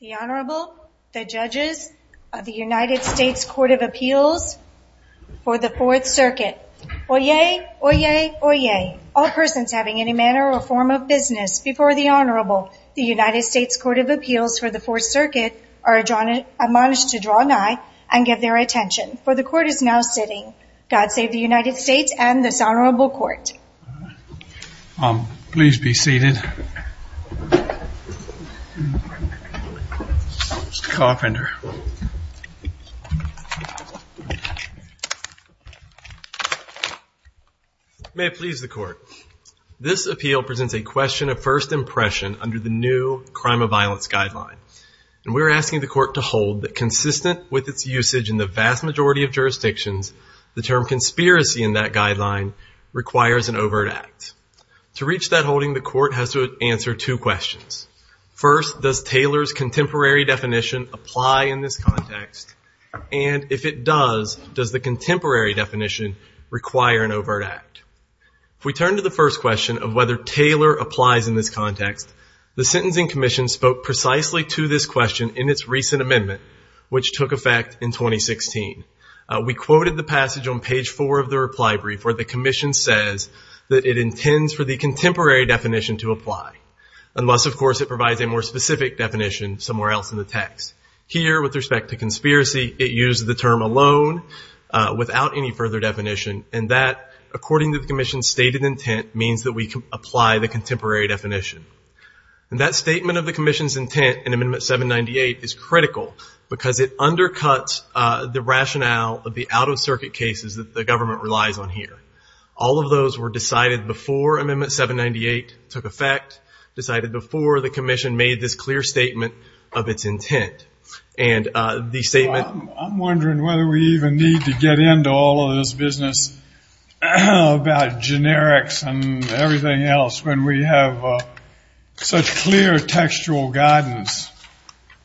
The Honorable, the Judges of the United States Court of Appeals for the Fourth Circuit. Oyez! Oyez! Oyez! All persons having any manner or form of business before the Honorable, the United States Court of Appeals for the Fourth Circuit, are admonished to draw nigh and give their attention. For the Court is now sitting. God save the United States and this Honorable Court. Um, please be seated. Mr. Carpenter. This appeal presents a question of first impression under the new Crime of Violence Guideline. And we're asking the Court to hold that consistent with its usage in the vast majority of jurisdictions, the term conspiracy in that guideline requires an overt act. To reach that holding, the Court has to answer two questions. First, does Taylor's contemporary definition apply in this context? And if it does, does the contemporary definition require an overt act? If we turn to the first question of whether Taylor applies in this context, the Sentencing Commission spoke precisely to this question in its recent amendment, which took effect in 2016. We quoted the passage on page four of the reply brief where the Commission says that it intends for the contemporary definition to apply. Unless, of course, it provides a more specific definition somewhere else in the text. Here, with respect to conspiracy, it used the term alone without any further definition. And that, according to the Commission's stated intent, means that we apply the contemporary definition. And that statement of the Commission's intent in Amendment 798 is critical because it undercuts the rationale of the out-of-circuit cases that the government relies on here. All of those were decided before Amendment 798 took effect, decided before the Commission made this clear statement of its intent. And the statement... I'm wondering whether we even need to get into all of this business about generics and everything else when we have such clear textual guidance.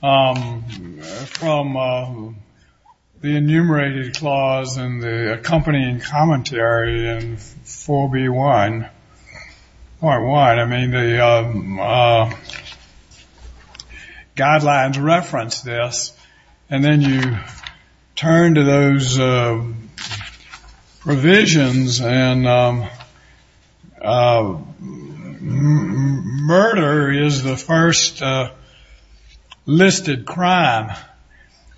From the enumerated clause in the accompanying commentary in 4B1.1, I mean, the guidelines reference this. And then you turn to those provisions and murder is the first listed crime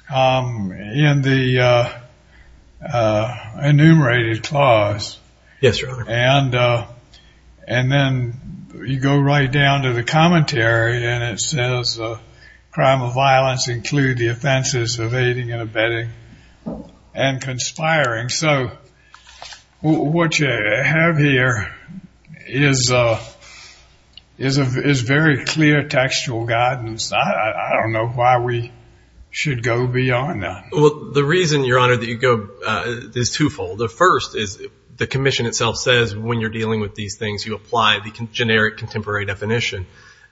in the enumerated clause. Yes, sir. And then you go right down to the commentary and it says crime of violence include the offenses of aiding and abetting and conspiring. So what you have here is very clear textual guidance. I don't know why we should go beyond that. Well, the reason, Your Honor, that you go is twofold. The first is the Commission itself says when you're dealing with these things, you apply the generic contemporary definition.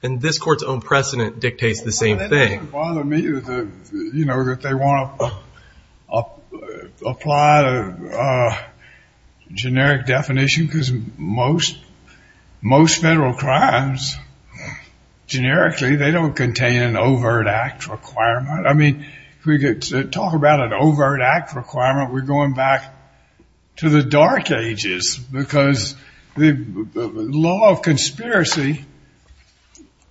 And this Court's own precedent dictates the same thing. It doesn't bother me that they want to apply a generic definition because most federal crimes, generically, they don't contain an overt act requirement. I mean, we could talk about an overt act requirement. We're going back to the dark ages because the law of conspiracy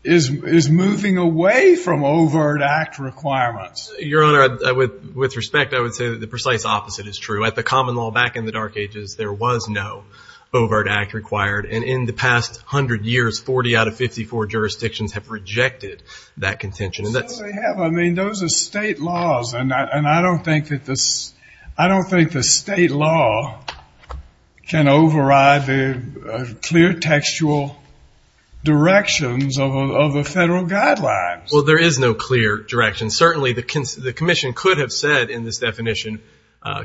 is moving away from overt act requirements. Your Honor, with respect, I would say that the precise opposite is true. At the common law back in the dark ages, there was no overt act required. And in the past hundred years, 40 out of 54 jurisdictions have rejected that contention. So they have. I mean, those are state laws, and I don't think that the state law can override the clear textual directions of the federal guidelines. Well, there is no clear direction. Certainly, the Commission could have said in this definition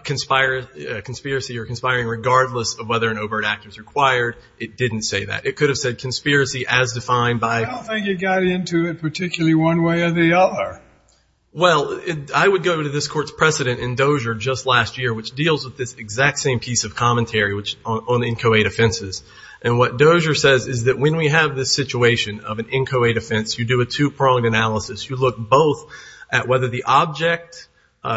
conspiracy or conspiring regardless of whether an overt act is required. It didn't say that. It could have said conspiracy as defined by. I don't think it got into it particularly one way or the other. Well, I would go to this Court's precedent in Dozier just last year, which deals with this exact same piece of commentary on inchoate offenses. And what Dozier says is that when we have this situation of an inchoate offense, you do a two-pronged analysis. You look both at whether the object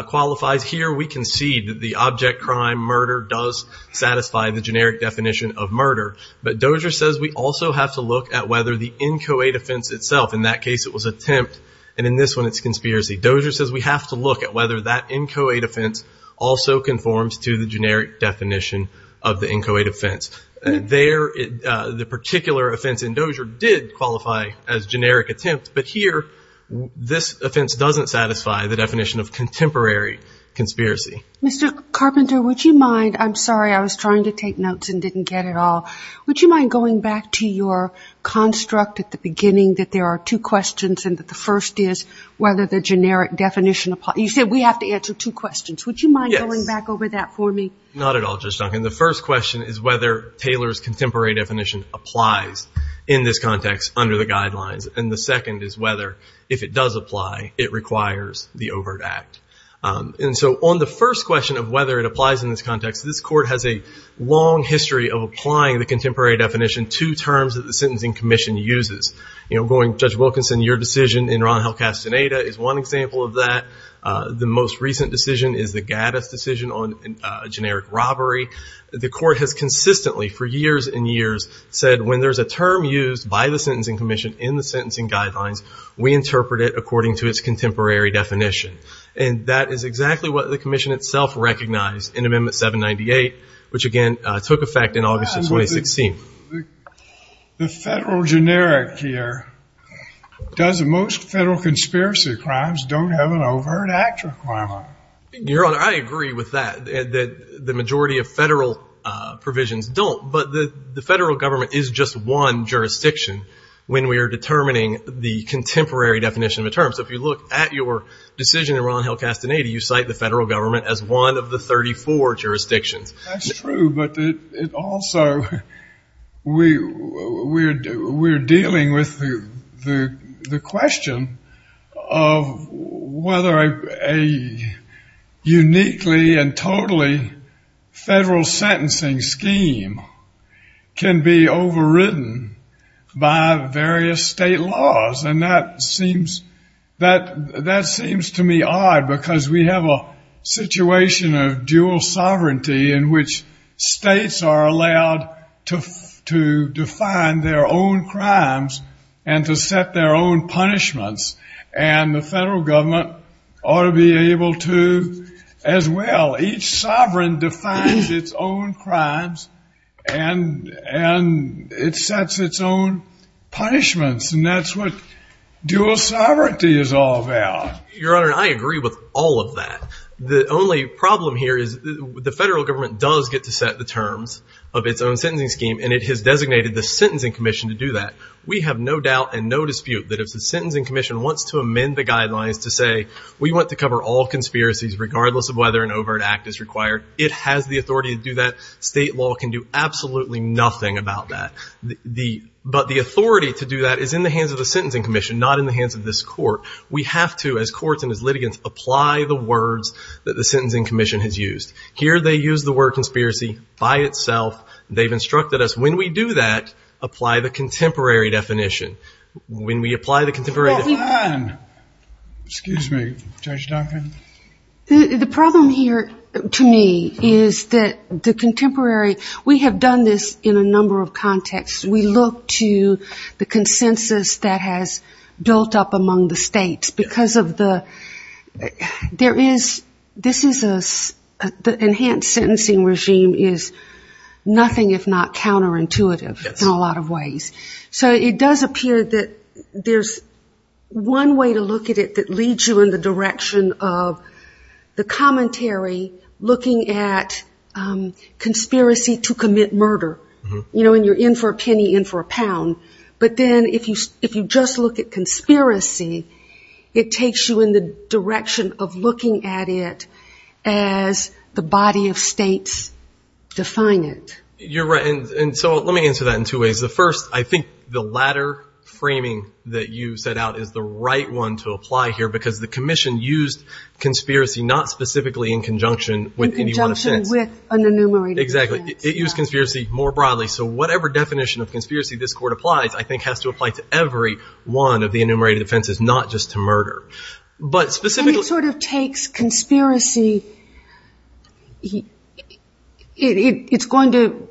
qualifies here. We concede that the object crime, murder, does satisfy the generic definition of murder. But Dozier says we also have to look at whether the inchoate offense itself, in that case it was attempt, and in this one it's conspiracy. Dozier says we have to look at whether that inchoate offense also conforms to the generic definition of the inchoate offense. There, the particular offense in Dozier did qualify as generic attempt, but here this offense doesn't satisfy the definition of contemporary conspiracy. Mr. Carpenter, would you mind? I'm sorry, I was trying to take notes and didn't get it all. Would you mind going back to your construct at the beginning that there are two questions and that the first is whether the generic definition applies? You said we have to answer two questions. Yes. Would you mind going back over that for me? Not at all, Judge Duncan. The first question is whether Taylor's contemporary definition applies in this context under the guidelines. And the second is whether, if it does apply, it requires the overt act. And so on the first question of whether it applies in this context, this Court has a long history of applying the contemporary definition to terms that the Sentencing Commission uses. You know, going, Judge Wilkinson, your decision in Ron Hall-Castaneda is one example of that. The most recent decision is the Gaddis decision on generic robbery. The Court has consistently, for years and years, said when there's a term used by the Sentencing Commission in the sentencing guidelines, we interpret it according to its contemporary definition. And that is exactly what the Commission itself recognized in Amendment 798, which, again, took effect in August of 2016. The federal generic here does most federal conspiracy crimes don't have an overt act requirement. Your Honor, I agree with that, that the majority of federal provisions don't. But the federal government is just one jurisdiction when we are determining the contemporary definition of a term. So if you look at your decision in Ron Hall-Castaneda, you cite the federal government as one of the 34 jurisdictions. That's true, but it also, we're dealing with the question of whether a uniquely and totally federal sentencing scheme can be overridden by various state laws. And that seems to me odd because we have a situation of dual sovereignty in which states are allowed to define their own crimes and to set their own punishments, and the federal government ought to be able to as well. Each sovereign defines its own crimes, and it sets its own punishments. And that's what dual sovereignty is all about. Your Honor, I agree with all of that. The only problem here is the federal government does get to set the terms of its own sentencing scheme, and it has designated the Sentencing Commission to do that. We have no doubt and no dispute that if the Sentencing Commission wants to amend the guidelines to say, we want to cover all conspiracies regardless of whether an overt act is required, it has the authority to do that. State law can do absolutely nothing about that. But the authority to do that is in the hands of the Sentencing Commission, not in the hands of this court. We have to, as courts and as litigants, apply the words that the Sentencing Commission has used. Here they use the word conspiracy by itself. They've instructed us when we do that, apply the contemporary definition. When we apply the contemporary definition. Excuse me, Judge Duncan. The problem here to me is that the contemporary, we have done this in a number of contexts. We look to the consensus that has built up among the states because of the, there is, this is a, the enhanced sentencing regime is nothing if not counterintuitive in a lot of ways. So it does appear that there's one way to look at it that leads you in the direction of the commentary looking at conspiracy to commit murder, you know, and you're in for a penny, in for a pound. But then if you just look at conspiracy, it takes you in the direction of looking at it as the body of states define it. You're right, and so let me answer that in two ways. The first, I think the latter framing that you set out is the right one to apply here because the commission used conspiracy not specifically in conjunction with any one offense. In conjunction with an enumerated offense. Exactly. It used conspiracy more broadly. So whatever definition of conspiracy this court applies I think has to apply to every one of the enumerated offenses, not just to murder. And it sort of takes conspiracy, it's going to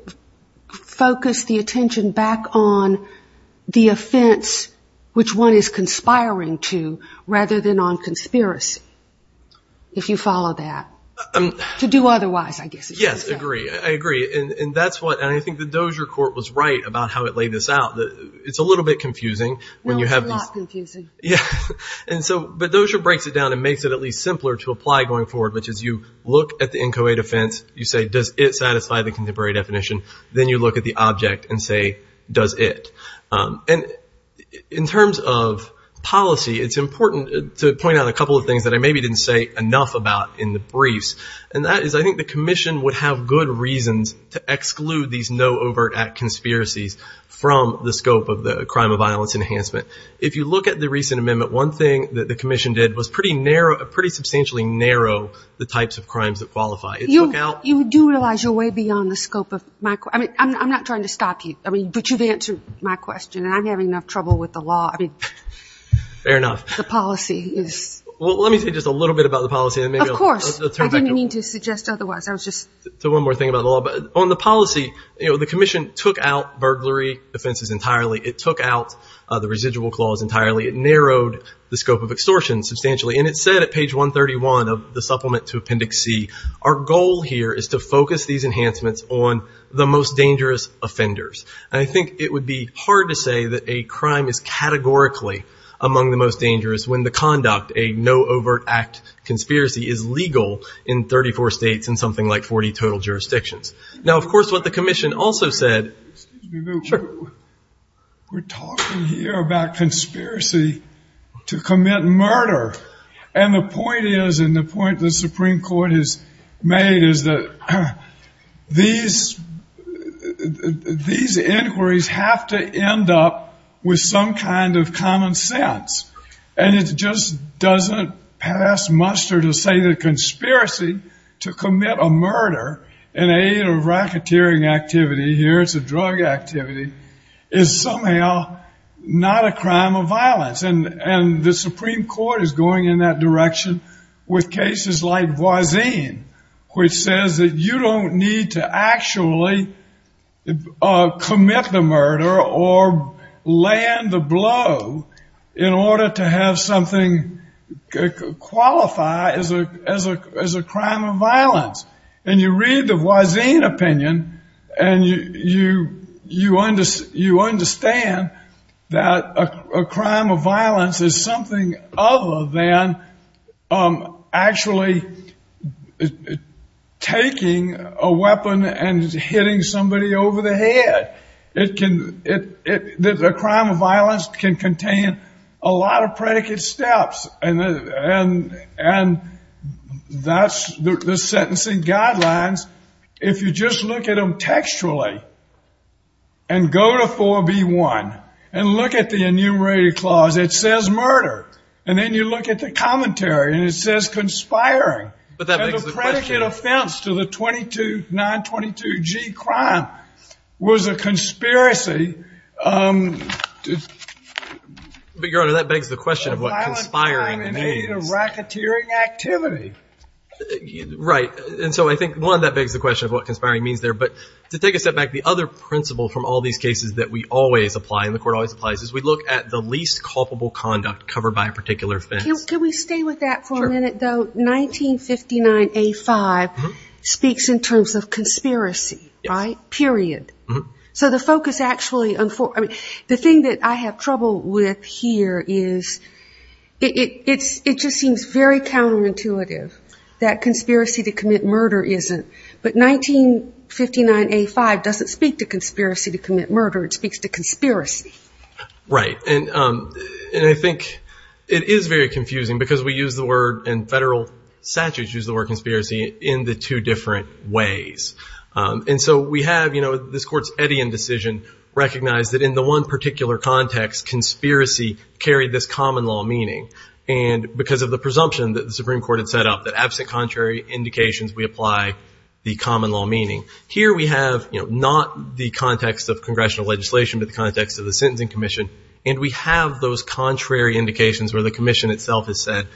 focus the attention back on the offense which one is conspiring to rather than on conspiracy, if you follow that. To do otherwise I guess is what you're saying. Yes, I agree, I agree, and that's what, and I think the Dozier court was right about how it laid this out. It's a little bit confusing. No, it's a lot confusing. Yeah, and so, but Dozier breaks it down and makes it at least simpler to apply going forward, which is you look at the NCOA defense, you say does it satisfy the contemporary definition, then you look at the object and say does it. And in terms of policy, it's important to point out a couple of things that I maybe didn't say enough about in the briefs, and that is I think the commission would have good reasons to exclude these no overt act conspiracies from the statute of the scope of the crime of violence enhancement. If you look at the recent amendment, one thing that the commission did was pretty narrow, pretty substantially narrow the types of crimes that qualify. You do realize you're way beyond the scope of my, I'm not trying to stop you, but you've answered my question and I'm having enough trouble with the law. Fair enough. The policy is. Well, let me say just a little bit about the policy. Of course, I didn't mean to suggest otherwise, I was just. One more thing about the law. On the policy, the commission took out burglary offenses entirely. It took out the residual clause entirely. It narrowed the scope of extortion substantially. And it said at page 131 of the supplement to appendix C, our goal here is to focus these enhancements on the most dangerous offenders. And I think it would be hard to say that a crime is categorically among the most dangerous when the conduct, a no overt act conspiracy is legal in 34 states and something like 40 total jurisdictions. Now, of course, what the commission also said. We're talking here about conspiracy to commit murder. And the point is, and the point the Supreme Court has made is that these inquiries have to end up with some kind of common sense. And it just doesn't pass muster to say that conspiracy to commit a murder in aid of racketeering activity, here it's a drug activity, is somehow not a crime of violence. And the Supreme Court is going in that direction with cases like Voisin, which says that you don't need to actually commit the murder or land the blow in order to have something qualify as a crime of violence. And you read the Voisin opinion and you understand that a crime of violence is something other than actually taking a weapon and hitting somebody over the head. That a crime of violence can contain a lot of predicate steps. And that's the sentencing guidelines. If you just look at them textually and go to 4B1 and look at the enumerated clause, it says murder. And then you look at the commentary and it says conspiring. And the predicate offense to the 922G crime was a conspiracy. But, Your Honor, that begs the question of what conspiring means. A violent crime in aid of racketeering activity. Right. And so I think, one, that begs the question of what conspiring means there. But to take a step back, the other principle from all these cases that we always apply and the Court always applies is we look at the least culpable conduct covered by a particular offense. Can we stay with that for a minute, though? But 1959A5 speaks in terms of conspiracy. Right? Period. So the focus actually, the thing that I have trouble with here is it just seems very counterintuitive that conspiracy to commit murder isn't. But 1959A5 doesn't speak to conspiracy to commit murder. It speaks to conspiracy. Right. And I think it is very confusing because we use the word and federal statutes use the word conspiracy in the two different ways. And so we have, you know, this Court's Eddian decision recognized that in the one particular context, conspiracy carried this common law meaning. And because of the presumption that the Supreme Court had set up that absent contrary indications, we apply the common law meaning. Here we have, you know, not the context of congressional legislation, but the context of the sentencing commission. And we have those contrary indications where the commission itself has said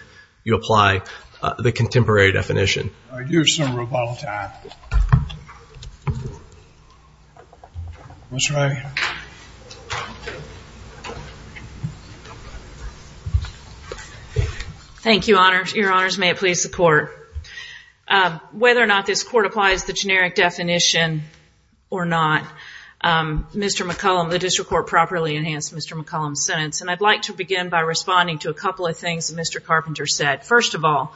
you apply the contemporary definition. All right. Here's some real bottle time. Ms. Ray. May it please the Court. Whether or not this Court applies the generic definition or not, Mr. McCollum, the district court properly enhanced Mr. McCollum's sentence. And I'd like to begin by responding to a couple of things that Mr. Carpenter said. First of all,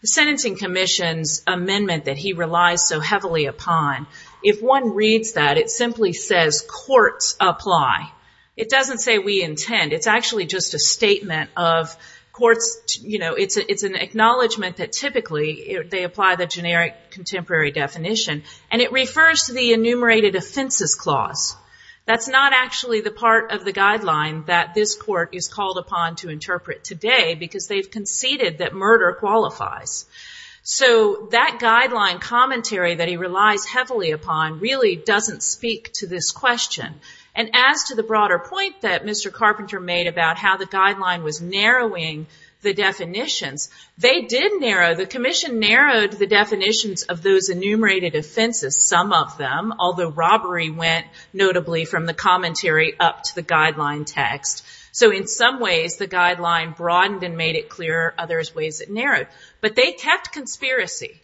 the sentencing commission's amendment that he relies so heavily upon, if one reads that, it simply says courts apply. It doesn't say we intend. It's actually just a statement of courts, you know, it's an acknowledgment that typically they apply the generic contemporary definition. And it refers to the enumerated offenses clause. That's not actually the part of the guideline that this Court is called upon to interpret today because they've conceded that murder qualifies. So that guideline commentary that he relies heavily upon really doesn't speak to this question. And as to the broader point that Mr. Carpenter made about how the guideline was narrowing the definitions, they did narrow, the commission narrowed the definitions of those enumerated offenses, some of them, although robbery went notably from the commentary up to the guideline text. So in some ways the guideline broadened and made it clearer, other ways it narrowed. But they kept conspiracy.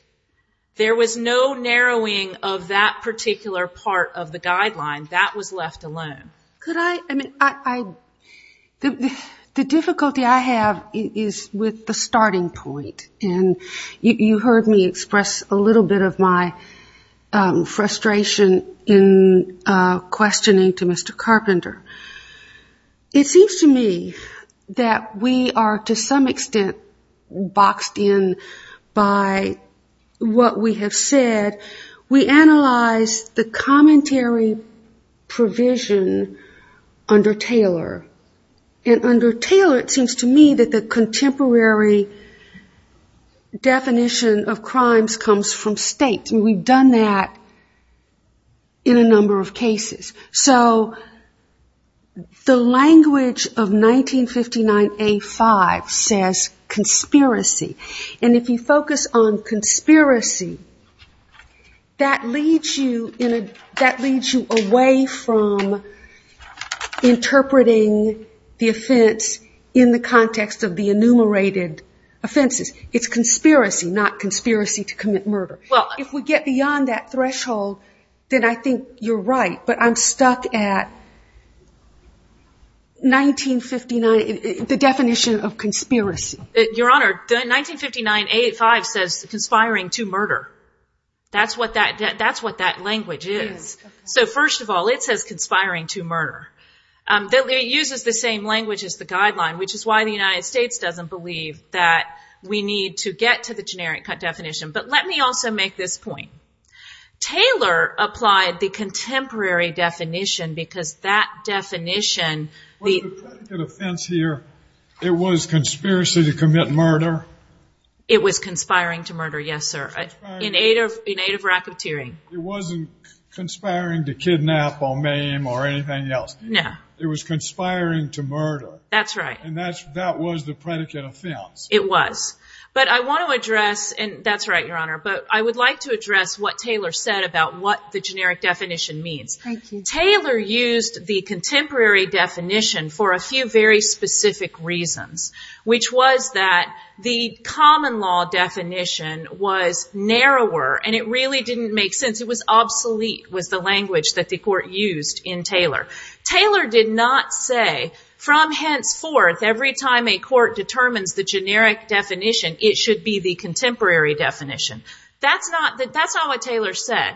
There was no narrowing of that particular part of the guideline. That was left alone. Could I, I mean, the difficulty I have is with the starting point. And you heard me express a little bit of my frustration in questioning to Mr. Carpenter. It seems to me that we are to some extent boxed in by what we have said. We analyzed the commentary provision under Taylor. And under Taylor it seems to me that the contemporary definition of crimes comes from state. And we've done that in a number of cases. So the language of 1959A5 says conspiracy. And if you focus on conspiracy, that leads you away from interpreting the offense in the context of the enumerated offenses. It's conspiracy, not conspiracy to commit murder. Well, if we get beyond that threshold, then I think you're right. But I'm stuck at 1959, the definition of conspiracy. Your Honor, the 1959A5 says conspiring to murder. That's what that language is. So first of all, it says conspiring to murder. It uses the same language as the guideline, which is why the United States doesn't believe that we need to get to the generic definition. But let me also make this point. Taylor applied the contemporary definition because that definition... Was the predicate offense here, it was conspiracy to commit murder? It was conspiring to murder, yes, sir, in aid of racketeering. It wasn't conspiring to kidnap or maim or anything else. No. It was conspiring to murder. That's right. And that was the predicate offense. It was. But I want to address, and that's right, Your Honor, but I would like to address what Taylor said about what the generic definition means. Thank you. Taylor used the contemporary definition for a few very specific reasons, which was that the common law definition was narrower, and it really didn't make sense. It was obsolete was the language that the court used in Taylor. Taylor did not say, from henceforth, every time a court determines the generic definition, it should be the contemporary definition. That's not what Taylor said,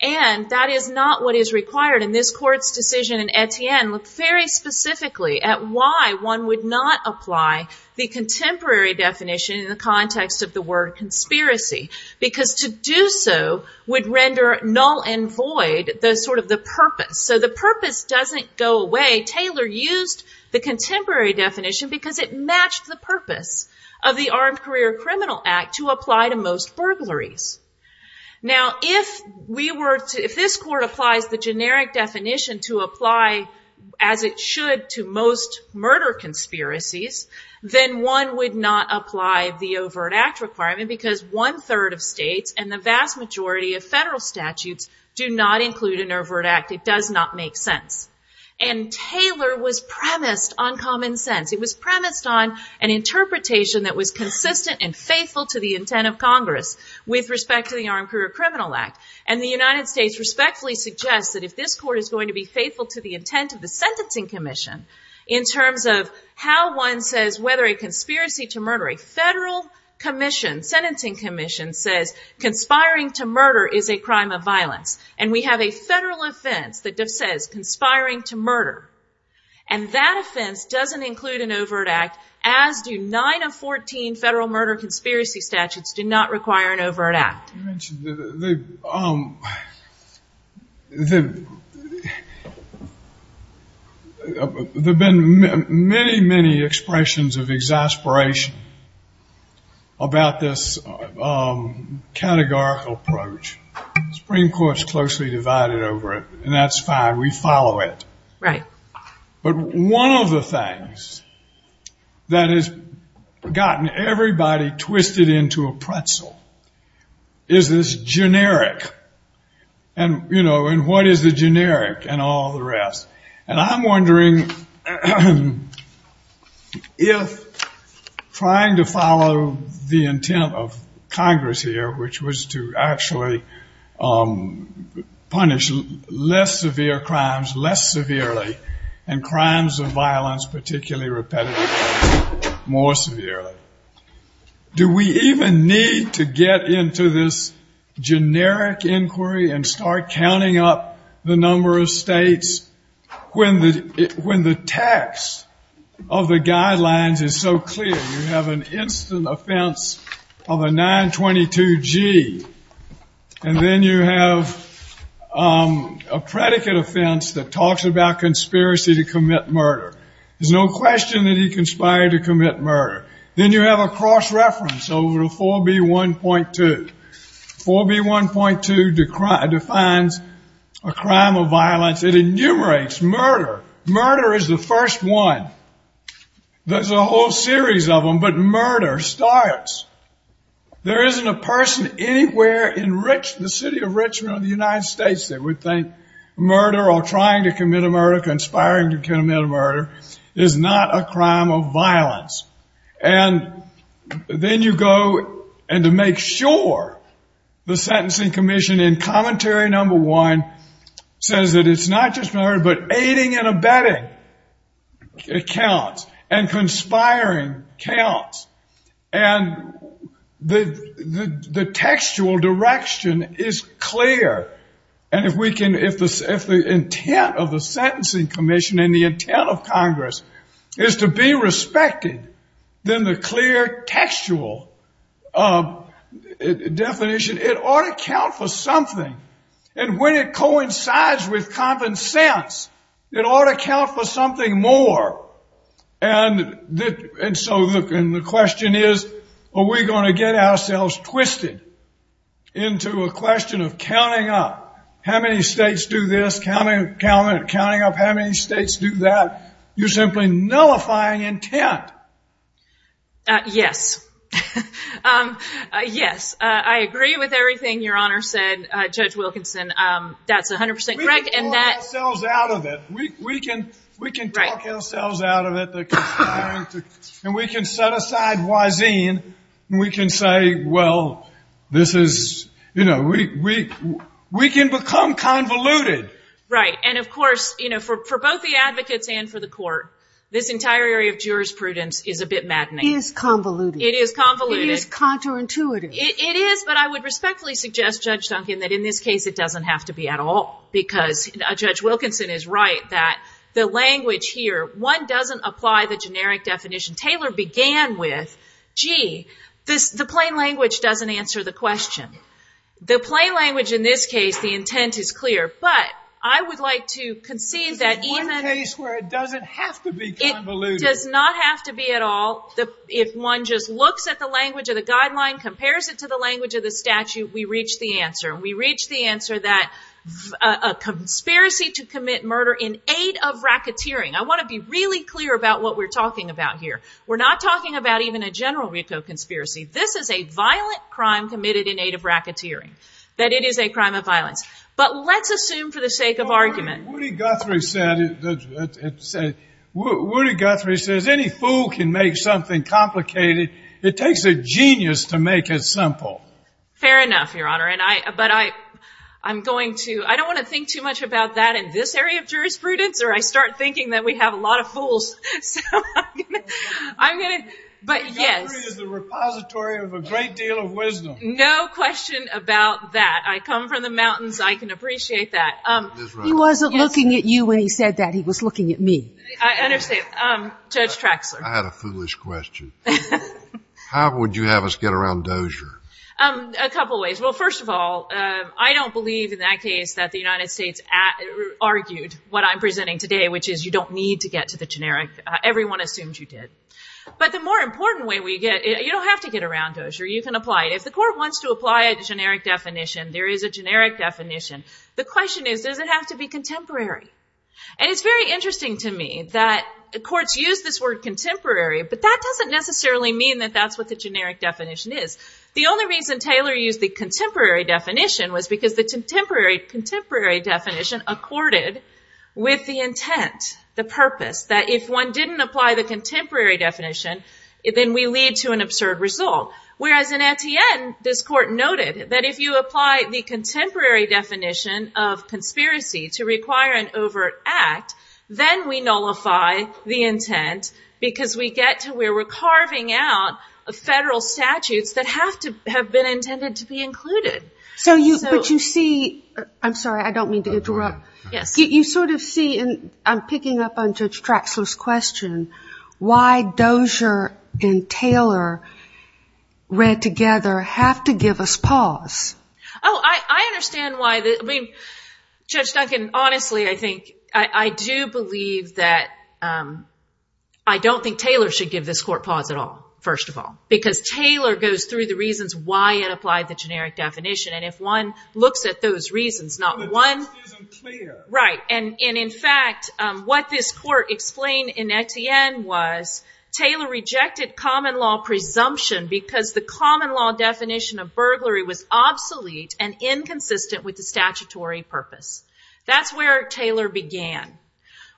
and that is not what is required. And this Court's decision in Etienne looked very specifically at why one would not apply the contemporary definition in the context of the word conspiracy, because to do so would render null and void the sort of the purpose. So the purpose doesn't go away. Taylor used the contemporary definition because it matched the purpose of the Armed Career Criminal Act to apply to most burglaries. Now, if this Court applies the generic definition to apply, as it should, to most murder conspiracies, then one would not apply the overt act requirement because one-third of states and the vast majority of federal statutes do not include an overt act. It does not make sense. And Taylor was premised on common sense. It was premised on an interpretation that was consistent and faithful to the intent of Congress with respect to the Armed Career Criminal Act. And the United States respectfully suggests that if this Court is going to be faithful to the intent of the Sentencing Commission, in terms of how one says whether a conspiracy to murder, a federal commission, sentencing commission, says conspiring to murder is a crime of violence, and we have a federal offense that says conspiring to murder, and that offense doesn't include an overt act, as do nine of 14 federal murder conspiracy statutes do not require an overt act. There have been many, many expressions of exasperation about this categorical approach. The Supreme Court's closely divided over it, and that's fine. We follow it. Right. But one of the things that has gotten everybody twisted into a pretzel is this generic and, you know, and what is the generic and all the rest. And I'm wondering if trying to follow the intent of Congress here, which was to actually punish less severe crimes less severely and crimes of violence particularly repetitively more severely, do we even need to get into this generic inquiry and start counting up the number of states when the text of the guidelines is so clear? You have an instant offense of a 922G, and then you have a predicate offense that talks about conspiracy to commit murder. There's no question that he conspired to commit murder. Then you have a cross reference over to 4B1.2. 4B1.2 defines a crime of violence. It enumerates murder. Murder is the first one. There's a whole series of them, but murder starts. There isn't a person anywhere in the city of Richmond or the United States that would think murder or trying to commit a murder, conspiring to commit a murder is not a crime of violence. And then you go and to make sure the sentencing commission in commentary number one says that it's not just murder but aiding and abetting accounts and conspiring accounts. And the textual direction is clear. And if the intent of the sentencing commission and the intent of Congress is to be respected, then the clear textual definition, it ought to count for something. And when it coincides with common sense, it ought to count for something more. And so the question is are we going to get ourselves twisted into a question of counting up? How many states do this? Counting up how many states do that? You're simply nullifying intent. Yes. Yes. I agree with everything Your Honor said, Judge Wilkinson. That's 100% correct. We can talk ourselves out of it. We can talk ourselves out of it. And we can set aside wiseen and we can say, well, this is, you know, we can become convoluted. Right. And, of course, you know, for both the advocates and for the court, this entire area of jurisprudence is a bit maddening. It is convoluted. It is convoluted. It is counterintuitive. It is. But I would respectfully suggest, Judge Duncan, that in this case it doesn't have to be at all. Because Judge Wilkinson is right that the language here, one doesn't apply the generic definition Taylor began with. Gee, the plain language doesn't answer the question. The plain language in this case, the intent is clear. But I would like to concede that even one case where it doesn't have to be convoluted. It does not have to be at all. If one just looks at the language of the guideline, compares it to the language of the statute, we reach the answer. And we reach the answer that a conspiracy to commit murder in aid of racketeering. I want to be really clear about what we're talking about here. We're not talking about even a general RICO conspiracy. This is a violent crime committed in aid of racketeering, that it is a crime of violence. But let's assume for the sake of argument. Woody Guthrie says any fool can make something complicated. It takes a genius to make it simple. Fair enough, Your Honor. But I'm going to, I don't want to think too much about that in this area of jurisprudence or I start thinking that we have a lot of fools. So I'm going to, but yes. The repository of a great deal of wisdom. No question about that. I come from the mountains. I can appreciate that. He wasn't looking at you when he said that. He was looking at me. I understand. Judge Traxler. I had a foolish question. How would you have us get around Dozier? A couple ways. Well, first of all, I don't believe in that case that the United States argued what I'm presenting today, which is you don't need to get to the generic. Everyone assumed you did. But the more important way we get, you don't have to get around Dozier. You can apply it. If the court wants to apply a generic definition, there is a generic definition. The question is, does it have to be contemporary? And it's very interesting to me that courts use this word contemporary, but that doesn't necessarily mean that that's what the generic definition is. The only reason Taylor used the contemporary definition was because the contemporary definition accorded with the intent, the purpose, that if one didn't apply the contemporary definition, then we lead to an absurd result. Whereas in Etienne, this court noted that if you apply the contemporary definition of conspiracy to require an overt act, then we nullify the intent because we get to where we're carving out a federal statutes that have to have been intended to be included. So you, but you see, I'm sorry, I don't mean to interrupt. Yes. You sort of see, and I'm picking up on Judge Traxler's question, why Dozier and Taylor read together have to give us pause. Oh, I understand why. I mean, Judge Duncan, honestly, I think, I do believe that I don't think Taylor should give this court pause at all, first of all, because Taylor goes through the reasons why it applied the generic definition. And if one looks at those reasons, not one, right. And in fact, what this court explained in Etienne was Taylor rejected common law presumption because the common law definition of burglary was obsolete and inconsistent with the statutory purpose. That's where Taylor began.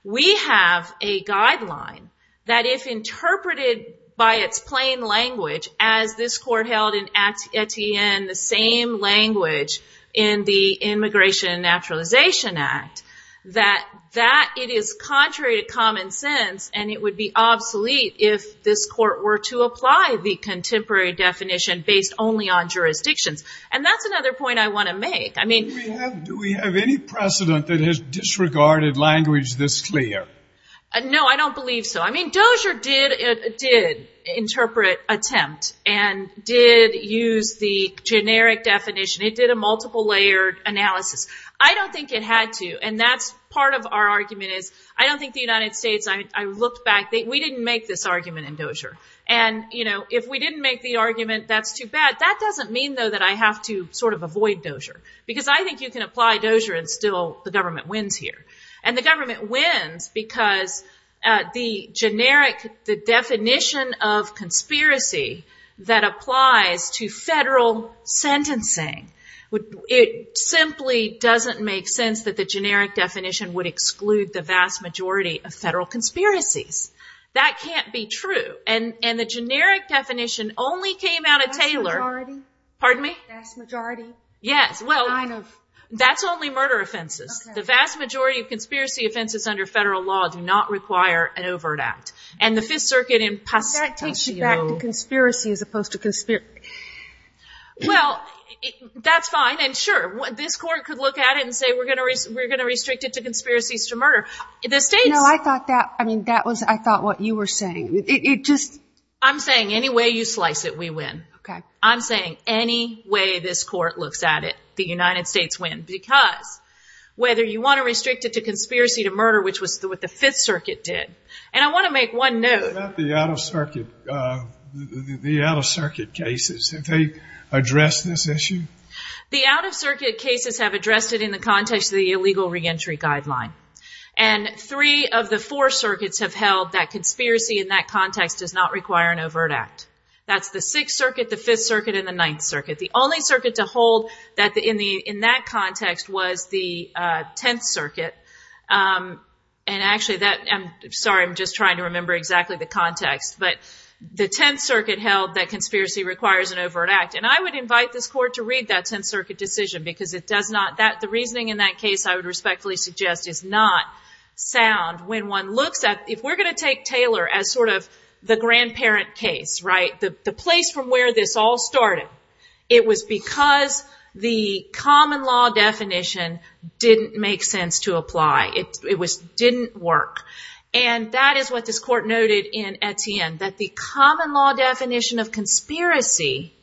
We have a guideline that if interpreted by its plain language, as this court held in Etienne, the same language in the Immigration and Naturalization Act, that it is contrary to common sense. And it would be obsolete if this court were to apply the contemporary definition based only on jurisdictions. And that's another point I want to make. Do we have any precedent that has disregarded language this clear? No, I don't believe so. I mean, I don't think it had to use the generic definition. It did a multiple layered analysis. I don't think it had to. And that's part of our argument is I don't think the United States, I looked back, we didn't make this argument in Dozier. And, you know, if we didn't make the argument, that's too bad. That doesn't mean, though, that I have to sort of avoid Dozier. Because I think you can apply Dozier and still the government wins here. And the government wins because the generic, the definition of conspiracy that applies to federal sentencing, it simply doesn't make sense that the generic definition would exclude the vast majority of federal conspiracies. That can't be true. And the generic definition only came out of Taylor. Vast majority? Pardon me? Vast majority? Yes, well, that's only murder offenses. The vast majority of conspiracy offenses under federal law do not require an overt act. And the Fifth Circuit in Pasadena. That takes you back to conspiracy as opposed to conspiracy. Well, that's fine. And, sure, this court could look at it and say we're going to restrict it to conspiracies to murder. The states. No, I thought that, I mean, that was, I thought what you were saying. It just. I'm saying any way you slice it, we win. Okay. I'm saying any way this court looks at it, the United States win. Because whether you want to restrict it to conspiracy to murder, which was what the Fifth Circuit did. And I want to make one note. What about the out-of-circuit cases? Have they addressed this issue? The out-of-circuit cases have addressed it in the context of the illegal reentry guideline. And three of the four circuits have held that conspiracy in that context does not require an overt act. That's the Sixth Circuit, the Fifth Circuit, and the Ninth Circuit. The only circuit to hold in that context was the Tenth Circuit. And actually that, I'm sorry, I'm just trying to remember exactly the context. But the Tenth Circuit held that conspiracy requires an overt act. And I would invite this court to read that Tenth Circuit decision because it does not, that, the reasoning in that case, I would respectfully suggest is not sound when one looks at, if we're going to take Taylor as sort of the grandparent case, right? The place from where this all started, it was because the common law definition didn't make sense to apply. It didn't work. And that is what this court noted in Etienne, that the common law definition of conspiracy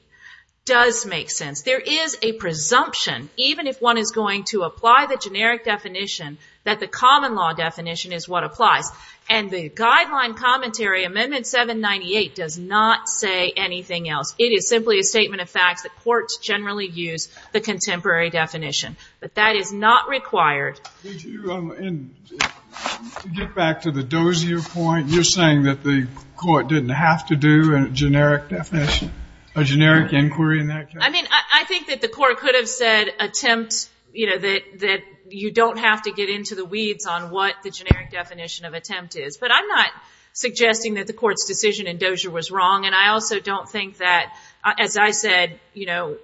does make sense. There is a presumption, even if one is going to apply the generic definition, that the common law definition is what applies. And the guideline commentary, Amendment 798, does not say anything else. It is simply a statement of facts that courts generally use the contemporary definition. But that is not required. And to get back to the Dozier point, you're saying that the court didn't have to do a generic definition, a generic inquiry in that case? I mean, I think that the court could have said attempt, you know, that you don't have to get into the weeds on what the generic definition of attempt is. But I'm not suggesting that the court's decision in Dozier was wrong. And I also don't think that, as I said, you know,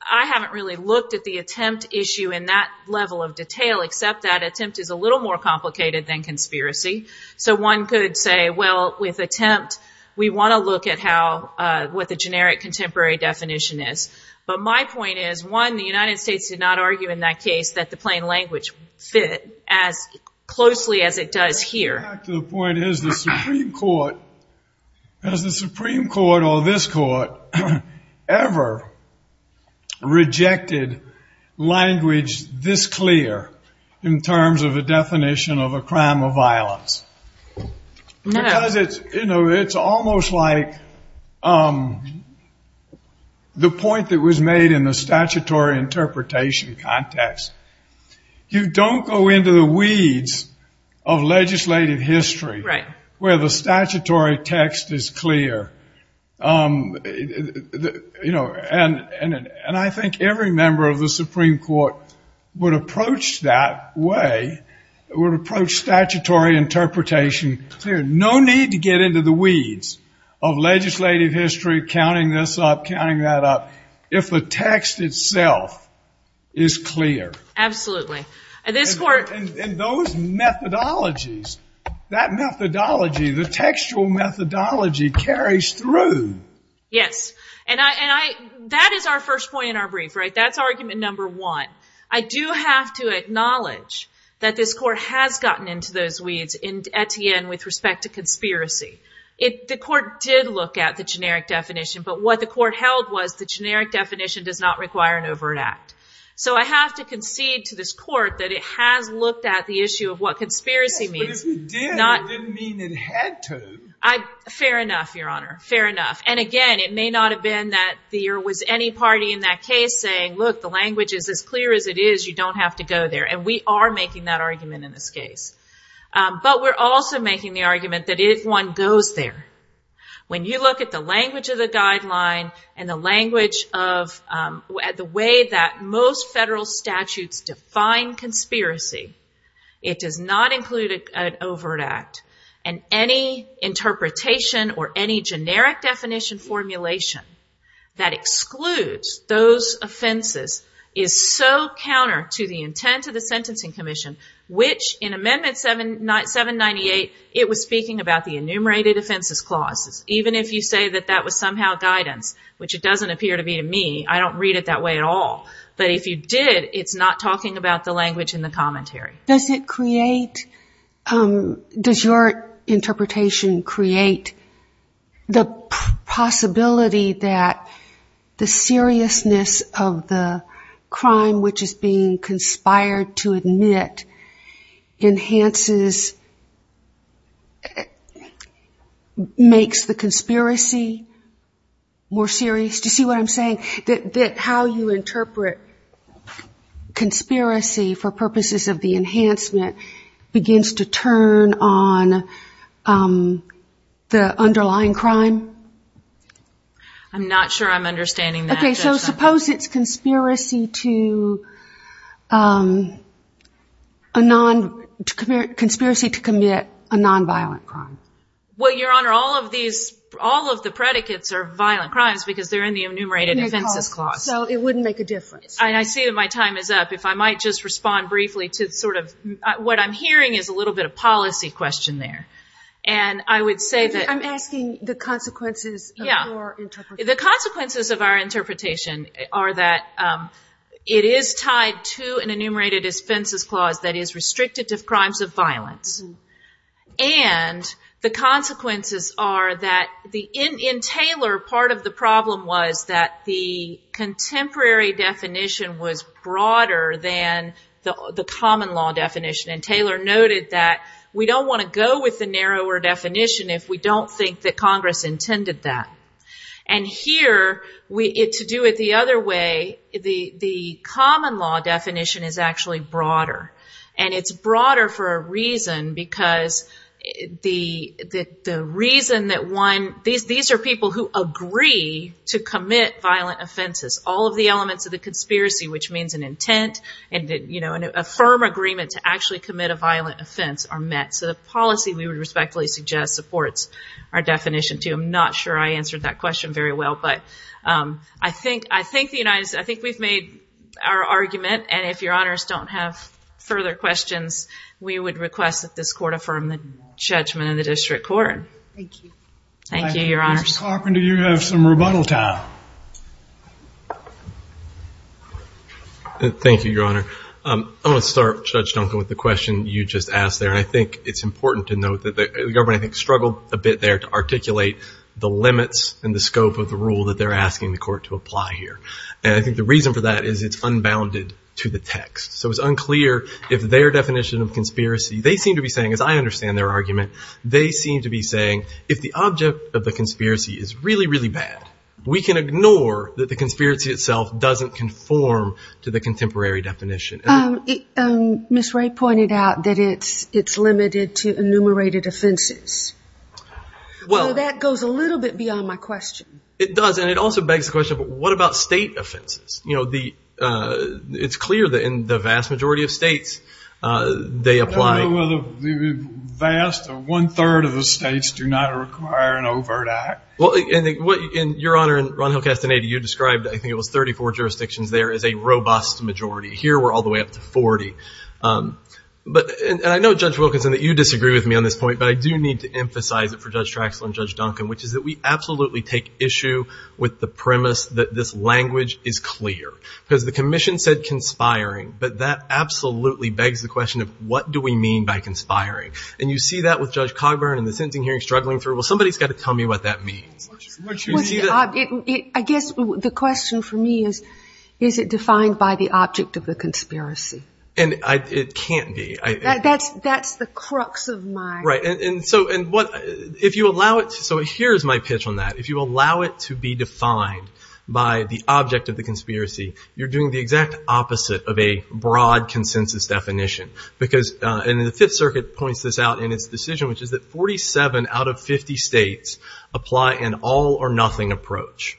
I haven't really looked at the attempt issue in that level of detail, except that attempt is a little more complicated than conspiracy. So one could say, well, with attempt, we want to look at what the generic contemporary definition is. But my point is, one, the United States did not argue in that case that the plain language fit as closely as it does here. To get back to the point, has the Supreme Court or this court ever rejected language this clear in terms of a definition of a crime of violence? No. Because it's almost like the point that was made in the statutory interpretation context. You don't go into the weeds of legislative history where the statutory text is clear. You know, and I think every member of the Supreme Court would approach that way, would approach statutory interpretation clear. No need to get into the weeds of legislative history, counting this up, is clear. Absolutely. And those methodologies, that methodology, the textual methodology carries through. Yes. And that is our first point in our brief, right? That's argument number one. I do have to acknowledge that this court has gotten into those weeds at the end with respect to conspiracy. The court did look at the generic definition, but what the court held was the generic definition does not require an overt act. So I have to concede to this court that it has looked at the issue of what conspiracy means. Yes, but if it did, it didn't mean it had to. Fair enough, Your Honor. Fair enough. And again, it may not have been that there was any party in that case saying, look, the language is as clear as it is. You don't have to go there. And we are making that argument in this case. But we're also making the argument that if one goes there, when you look at the language of the guideline and the language of the way that most federal statutes define conspiracy, it does not include an overt act. And any interpretation or any generic definition formulation that excludes those offenses is so counter to the intent of the Sentencing Commission, which in Amendment 798, it was speaking about the enumerated offenses clauses. Even if you say that that was somehow guidance, which it doesn't appear to be to me, I don't read it that way at all. But if you did, it's not talking about the language in the commentary. Does it create, does your interpretation create the possibility that the Enhancement makes the conspiracy more serious? Do you see what I'm saying? That how you interpret conspiracy for purposes of the Enhancement begins to turn on the underlying crime? I'm not sure I'm understanding that. Okay, so suppose it's conspiracy to commit a nonviolent crime. Well, Your Honor, all of these, all of the predicates are violent crimes because they're in the enumerated offenses clause. So it wouldn't make a difference. I see that my time is up. If I might just respond briefly to sort of what I'm hearing is a little bit of policy question there. I'm asking the consequences of your interpretation. The consequences of our interpretation are that it is tied to an enumerated offenses clause that is restricted to crimes of violence. And the consequences are that in Taylor, part of the problem was that the contemporary definition was broader than the common law definition. And Taylor noted that we don't want to go with the narrower definition if we don't think that Congress intended that. And here, to do it the other way, the common law definition is actually broader. And it's broader for a reason because the reason that one, these are people who agree to commit violent offenses. All of the elements of the conspiracy, which means an intent and a firm agreement to actually commit a violent offense, are met. So the policy we would respectfully suggest supports our definition, too. I'm not sure I answered that question very well. But I think the United States, I think we've made our argument. And if Your Honors don't have further questions, we would request that this Court affirm the judgment of the District Court. Thank you. Thank you, Your Honors. Ms. Carpenter, you have some rebuttal time. Thank you, Your Honor. I want to start, Judge Duncan, with the question you just asked there. And I think it's important to note that the government, I think, is still a bit there to articulate the limits and the scope of the rule that they're asking the Court to apply here. And I think the reason for that is it's unbounded to the text. So it's unclear if their definition of conspiracy, they seem to be saying, as I understand their argument, they seem to be saying if the object of the conspiracy is really, really bad, we can ignore that the conspiracy itself doesn't conform to the contemporary definition. Ms. Ray pointed out that it's limited to enumerated offenses. So that goes a little bit beyond my question. It does. And it also begs the question, what about state offenses? You know, it's clear that in the vast majority of states, they apply. The vast one-third of the states do not require an overt act. Your Honor, in Ron Hill Castaneda, you described, I think it was 34 jurisdictions there, as a robust majority. Here we're all the way up to 40. And I know, Judge Wilkinson, that you disagree with me on this point, but I do need to emphasize it for Judge Traxler and Judge Duncan, which is that we absolutely take issue with the premise that this language is clear. Because the Commission said conspiring, but that absolutely begs the question of what do we mean by conspiring? And you see that with Judge Cogburn and the sentencing hearing struggling through. Well, somebody's got to tell me what that means. I guess the question for me is, is it defined by the object of the conspiracy? And it can't be. That's the crux of my. Right. And so if you allow it, so here's my pitch on that. If you allow it to be defined by the object of the conspiracy, you're doing the exact opposite of a broad consensus definition. Because, and the Fifth Circuit points this out in its decision, which is that 47 out of 50 states apply an all or nothing approach.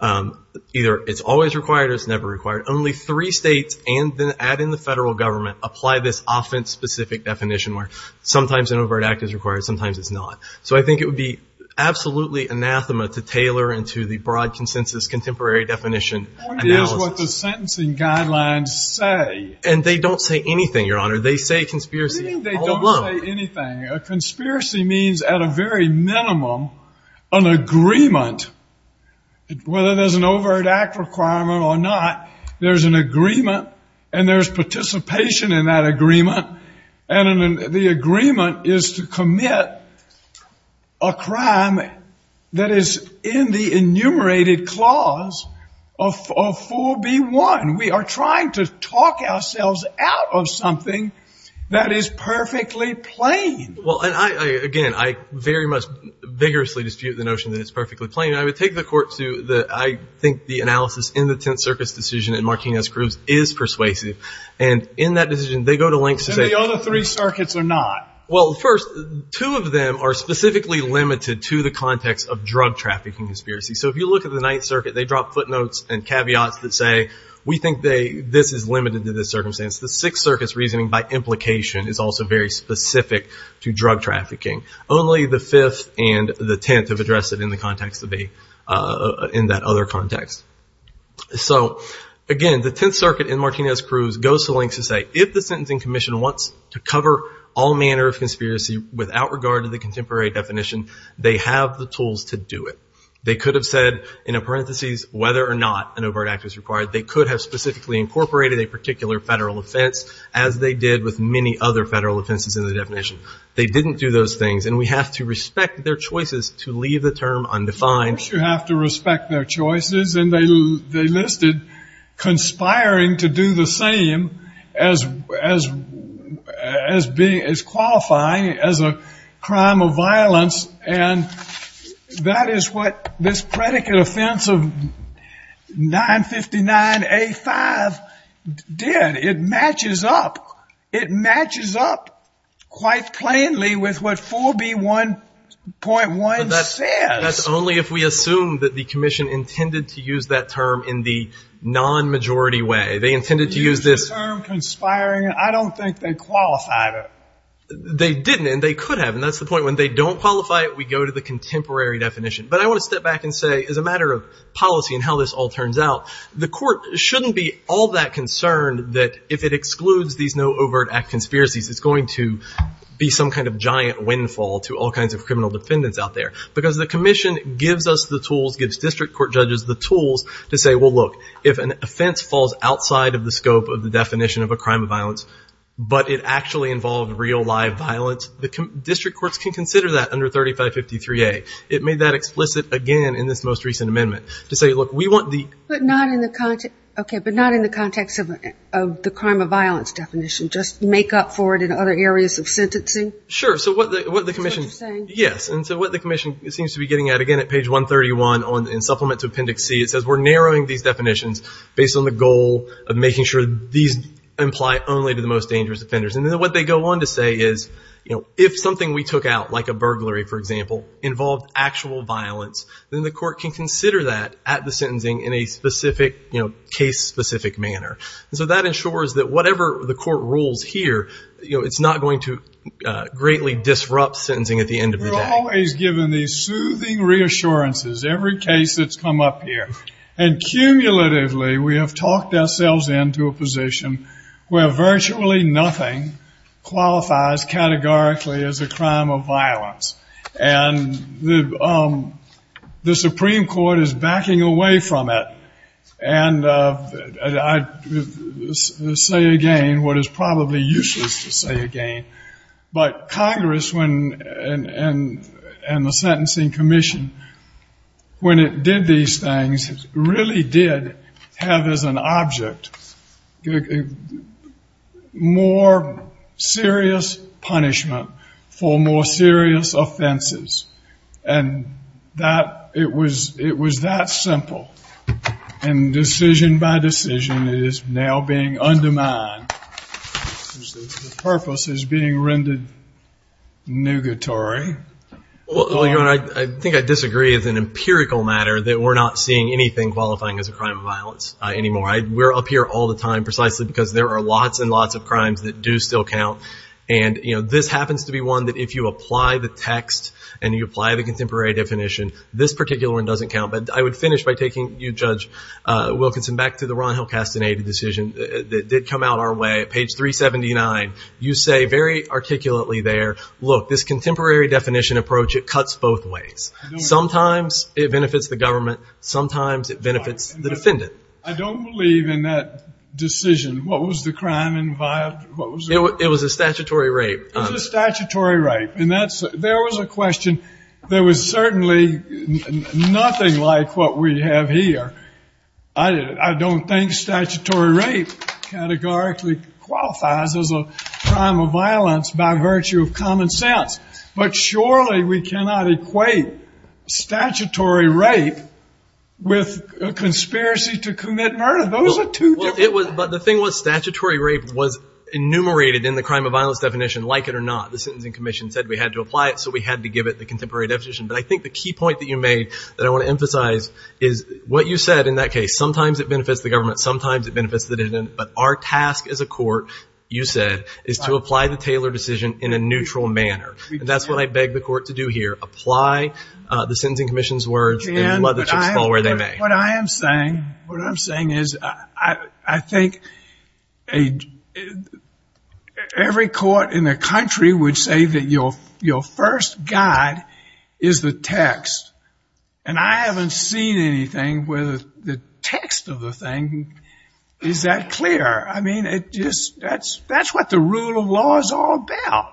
Either it's always required or it's never required. Only three states and then add in the federal government apply this offense-specific definition where sometimes an overt act is required, sometimes it's not. So I think it would be absolutely anathema to tailor into the broad consensus contemporary definition. Point is what the sentencing guidelines say. And they don't say anything, Your Honor. They say conspiracy all along. They don't say anything. A conspiracy means at a very minimum an agreement. Whether there's an overt act requirement or not, there's an agreement. And there's participation in that agreement. And the agreement is to commit a crime that is in the enumerated clause of 4B1. We are trying to talk ourselves out of something that is perfectly plain. Well, and I, again, I very much vigorously dispute the notion that it's perfectly plain. I would take the court to the, I think the analysis in the Tenth Circuit's decision in Martinez-Groves is persuasive. And in that decision, they go to lengths to say. And the other three circuits are not. Well, first, two of them are specifically limited to the context of drug trafficking conspiracy. So if you look at the Ninth Circuit, they drop footnotes and caveats that say, we think this is limited to this circumstance. The Sixth Circuit's reasoning by implication is also very specific to drug trafficking. Only the Fifth and the Tenth have addressed it in the context of the, in that other context. So, again, the Tenth Circuit in Martinez-Groves goes to lengths to say, if the Sentencing Commission wants to cover all manner of conspiracy without regard to the contemporary definition, they have the tools to do it. They could have said, in a parenthesis, whether or not an overt act is required. They could have specifically incorporated a particular federal offense, as they did with many other federal offenses in the definition. They didn't do those things. And we have to respect their choices to leave the term undefined. Of course you have to respect their choices. And they listed conspiring to do the same as being, as qualifying as a crime of violence. And that is what this predicate offense of 959A5 did. It matches up. It matches up quite plainly with what 4B1.1 says. That's only if we assume that the commission intended to use that term in the non-majority way. They intended to use this. Conspiring. I don't think they qualified it. They didn't, and they could have. And that's the point. When they don't qualify it, we go to the contemporary definition. But I want to step back and say, as a matter of policy and how this all turns out, the court shouldn't be all that concerned that if it excludes these no overt act conspiracies, it's going to be some kind of giant windfall to all kinds of criminal defendants out there. Because the commission gives us the tools, gives district court judges the tools to say, well, look, if an offense falls outside of the scope of the definition of a crime of violence, but it actually involved real live violence, the district courts can consider that under 3553A. It made that explicit again in this most recent amendment to say, look, we want the. But not in the context of the crime of violence definition. Just make up for it in other areas of sentencing. Sure. So what the commission. That's what you're saying. Yes. And so what the commission seems to be getting at, again, at page 131 in supplement to appendix C, it says we're narrowing these definitions based on the goal of making sure these imply only to the most dangerous offenders. And then what they go on to say is, you know, if something we took out like a burglary, for example, involved actual violence, then the court can consider that at the sentencing in a specific, you know, case specific manner. And so that ensures that whatever the court rules here, you know, it's not going to greatly disrupt sentencing at the end of the day. We're always given these soothing reassurances, every case that's come up here. And cumulatively we have talked ourselves into a position where virtually nothing qualifies categorically as a crime of violence. And the Supreme Court is backing away from it. And I say again what is probably useless to say again, but Congress and the sentencing commission, when it did these things, really did have as an object more serious punishment for more serious offenses. And it was that simple. And decision by decision it is now being undermined. The purpose is being rendered nugatory. Well, you know, I think I disagree as an empirical matter that we're not seeing anything qualifying as a crime of violence anymore. We're up here all the time precisely because there are lots and lots of crimes that do still count. And, you know, this happens to be one that if you apply the text and you apply the contemporary definition, this particular one doesn't count. But I would finish by taking you, Judge Wilkinson, back to the Ron Hill casting aid decision that did come out our way. Page 379, you say very articulately there, look, this contemporary definition approach, it cuts both ways. Sometimes it benefits the government. Sometimes it benefits the defendant. I don't believe in that decision. What was the crime involved? It was a statutory rape. It was a statutory rape. And there was a question that was certainly nothing like what we have here. I don't think statutory rape categorically qualifies as a crime of violence by virtue of common sense. But surely we cannot equate statutory rape with a conspiracy to commit murder. Those are two different things. But the thing was statutory rape was enumerated in the crime of violence definition, like it or not. The Sentencing Commission said we had to apply it, so we had to give it the contemporary definition. But I think the key point that you made that I want to emphasize is what you said in that case. Sometimes it benefits the government. Sometimes it benefits the defendant. But our task as a court, you said, is to apply the Taylor decision in a neutral manner. And that's what I beg the court to do here. Apply the Sentencing Commission's words and let the chips fall where they may. What I am saying is I think every court in the country would say that your first guide is the text. And I haven't seen anything where the text of the thing is that clear. I mean, that's what the rule of law is all about.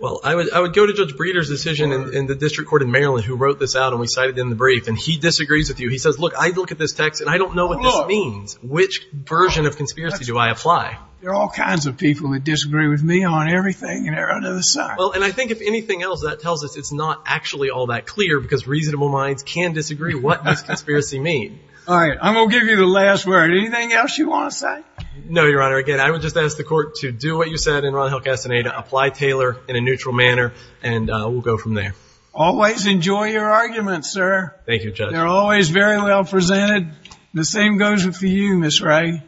Well, I would go to Judge Breeder's decision in the district court in Maryland who wrote this out and we cited it in the brief. And he disagrees with you. He says, look, I look at this text and I don't know what this means. Which version of conspiracy do I apply? There are all kinds of people that disagree with me on everything and they're on the other side. Well, and I think if anything else, that tells us it's not actually all that clear because reasonable minds can disagree what this conspiracy means. All right. I'm going to give you the last word. Anything else you want to say? No, Your Honor. Again, I would just ask the court to do what you said in Ronald Hill Castaneda, apply Taylor in a neutral manner, and we'll go from there. Always enjoy your arguments, sir. Thank you, Judge. They're always very well presented. The same goes for you, Ms. Ray.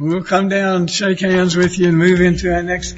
We'll come down and shake hands with you and move into our next case.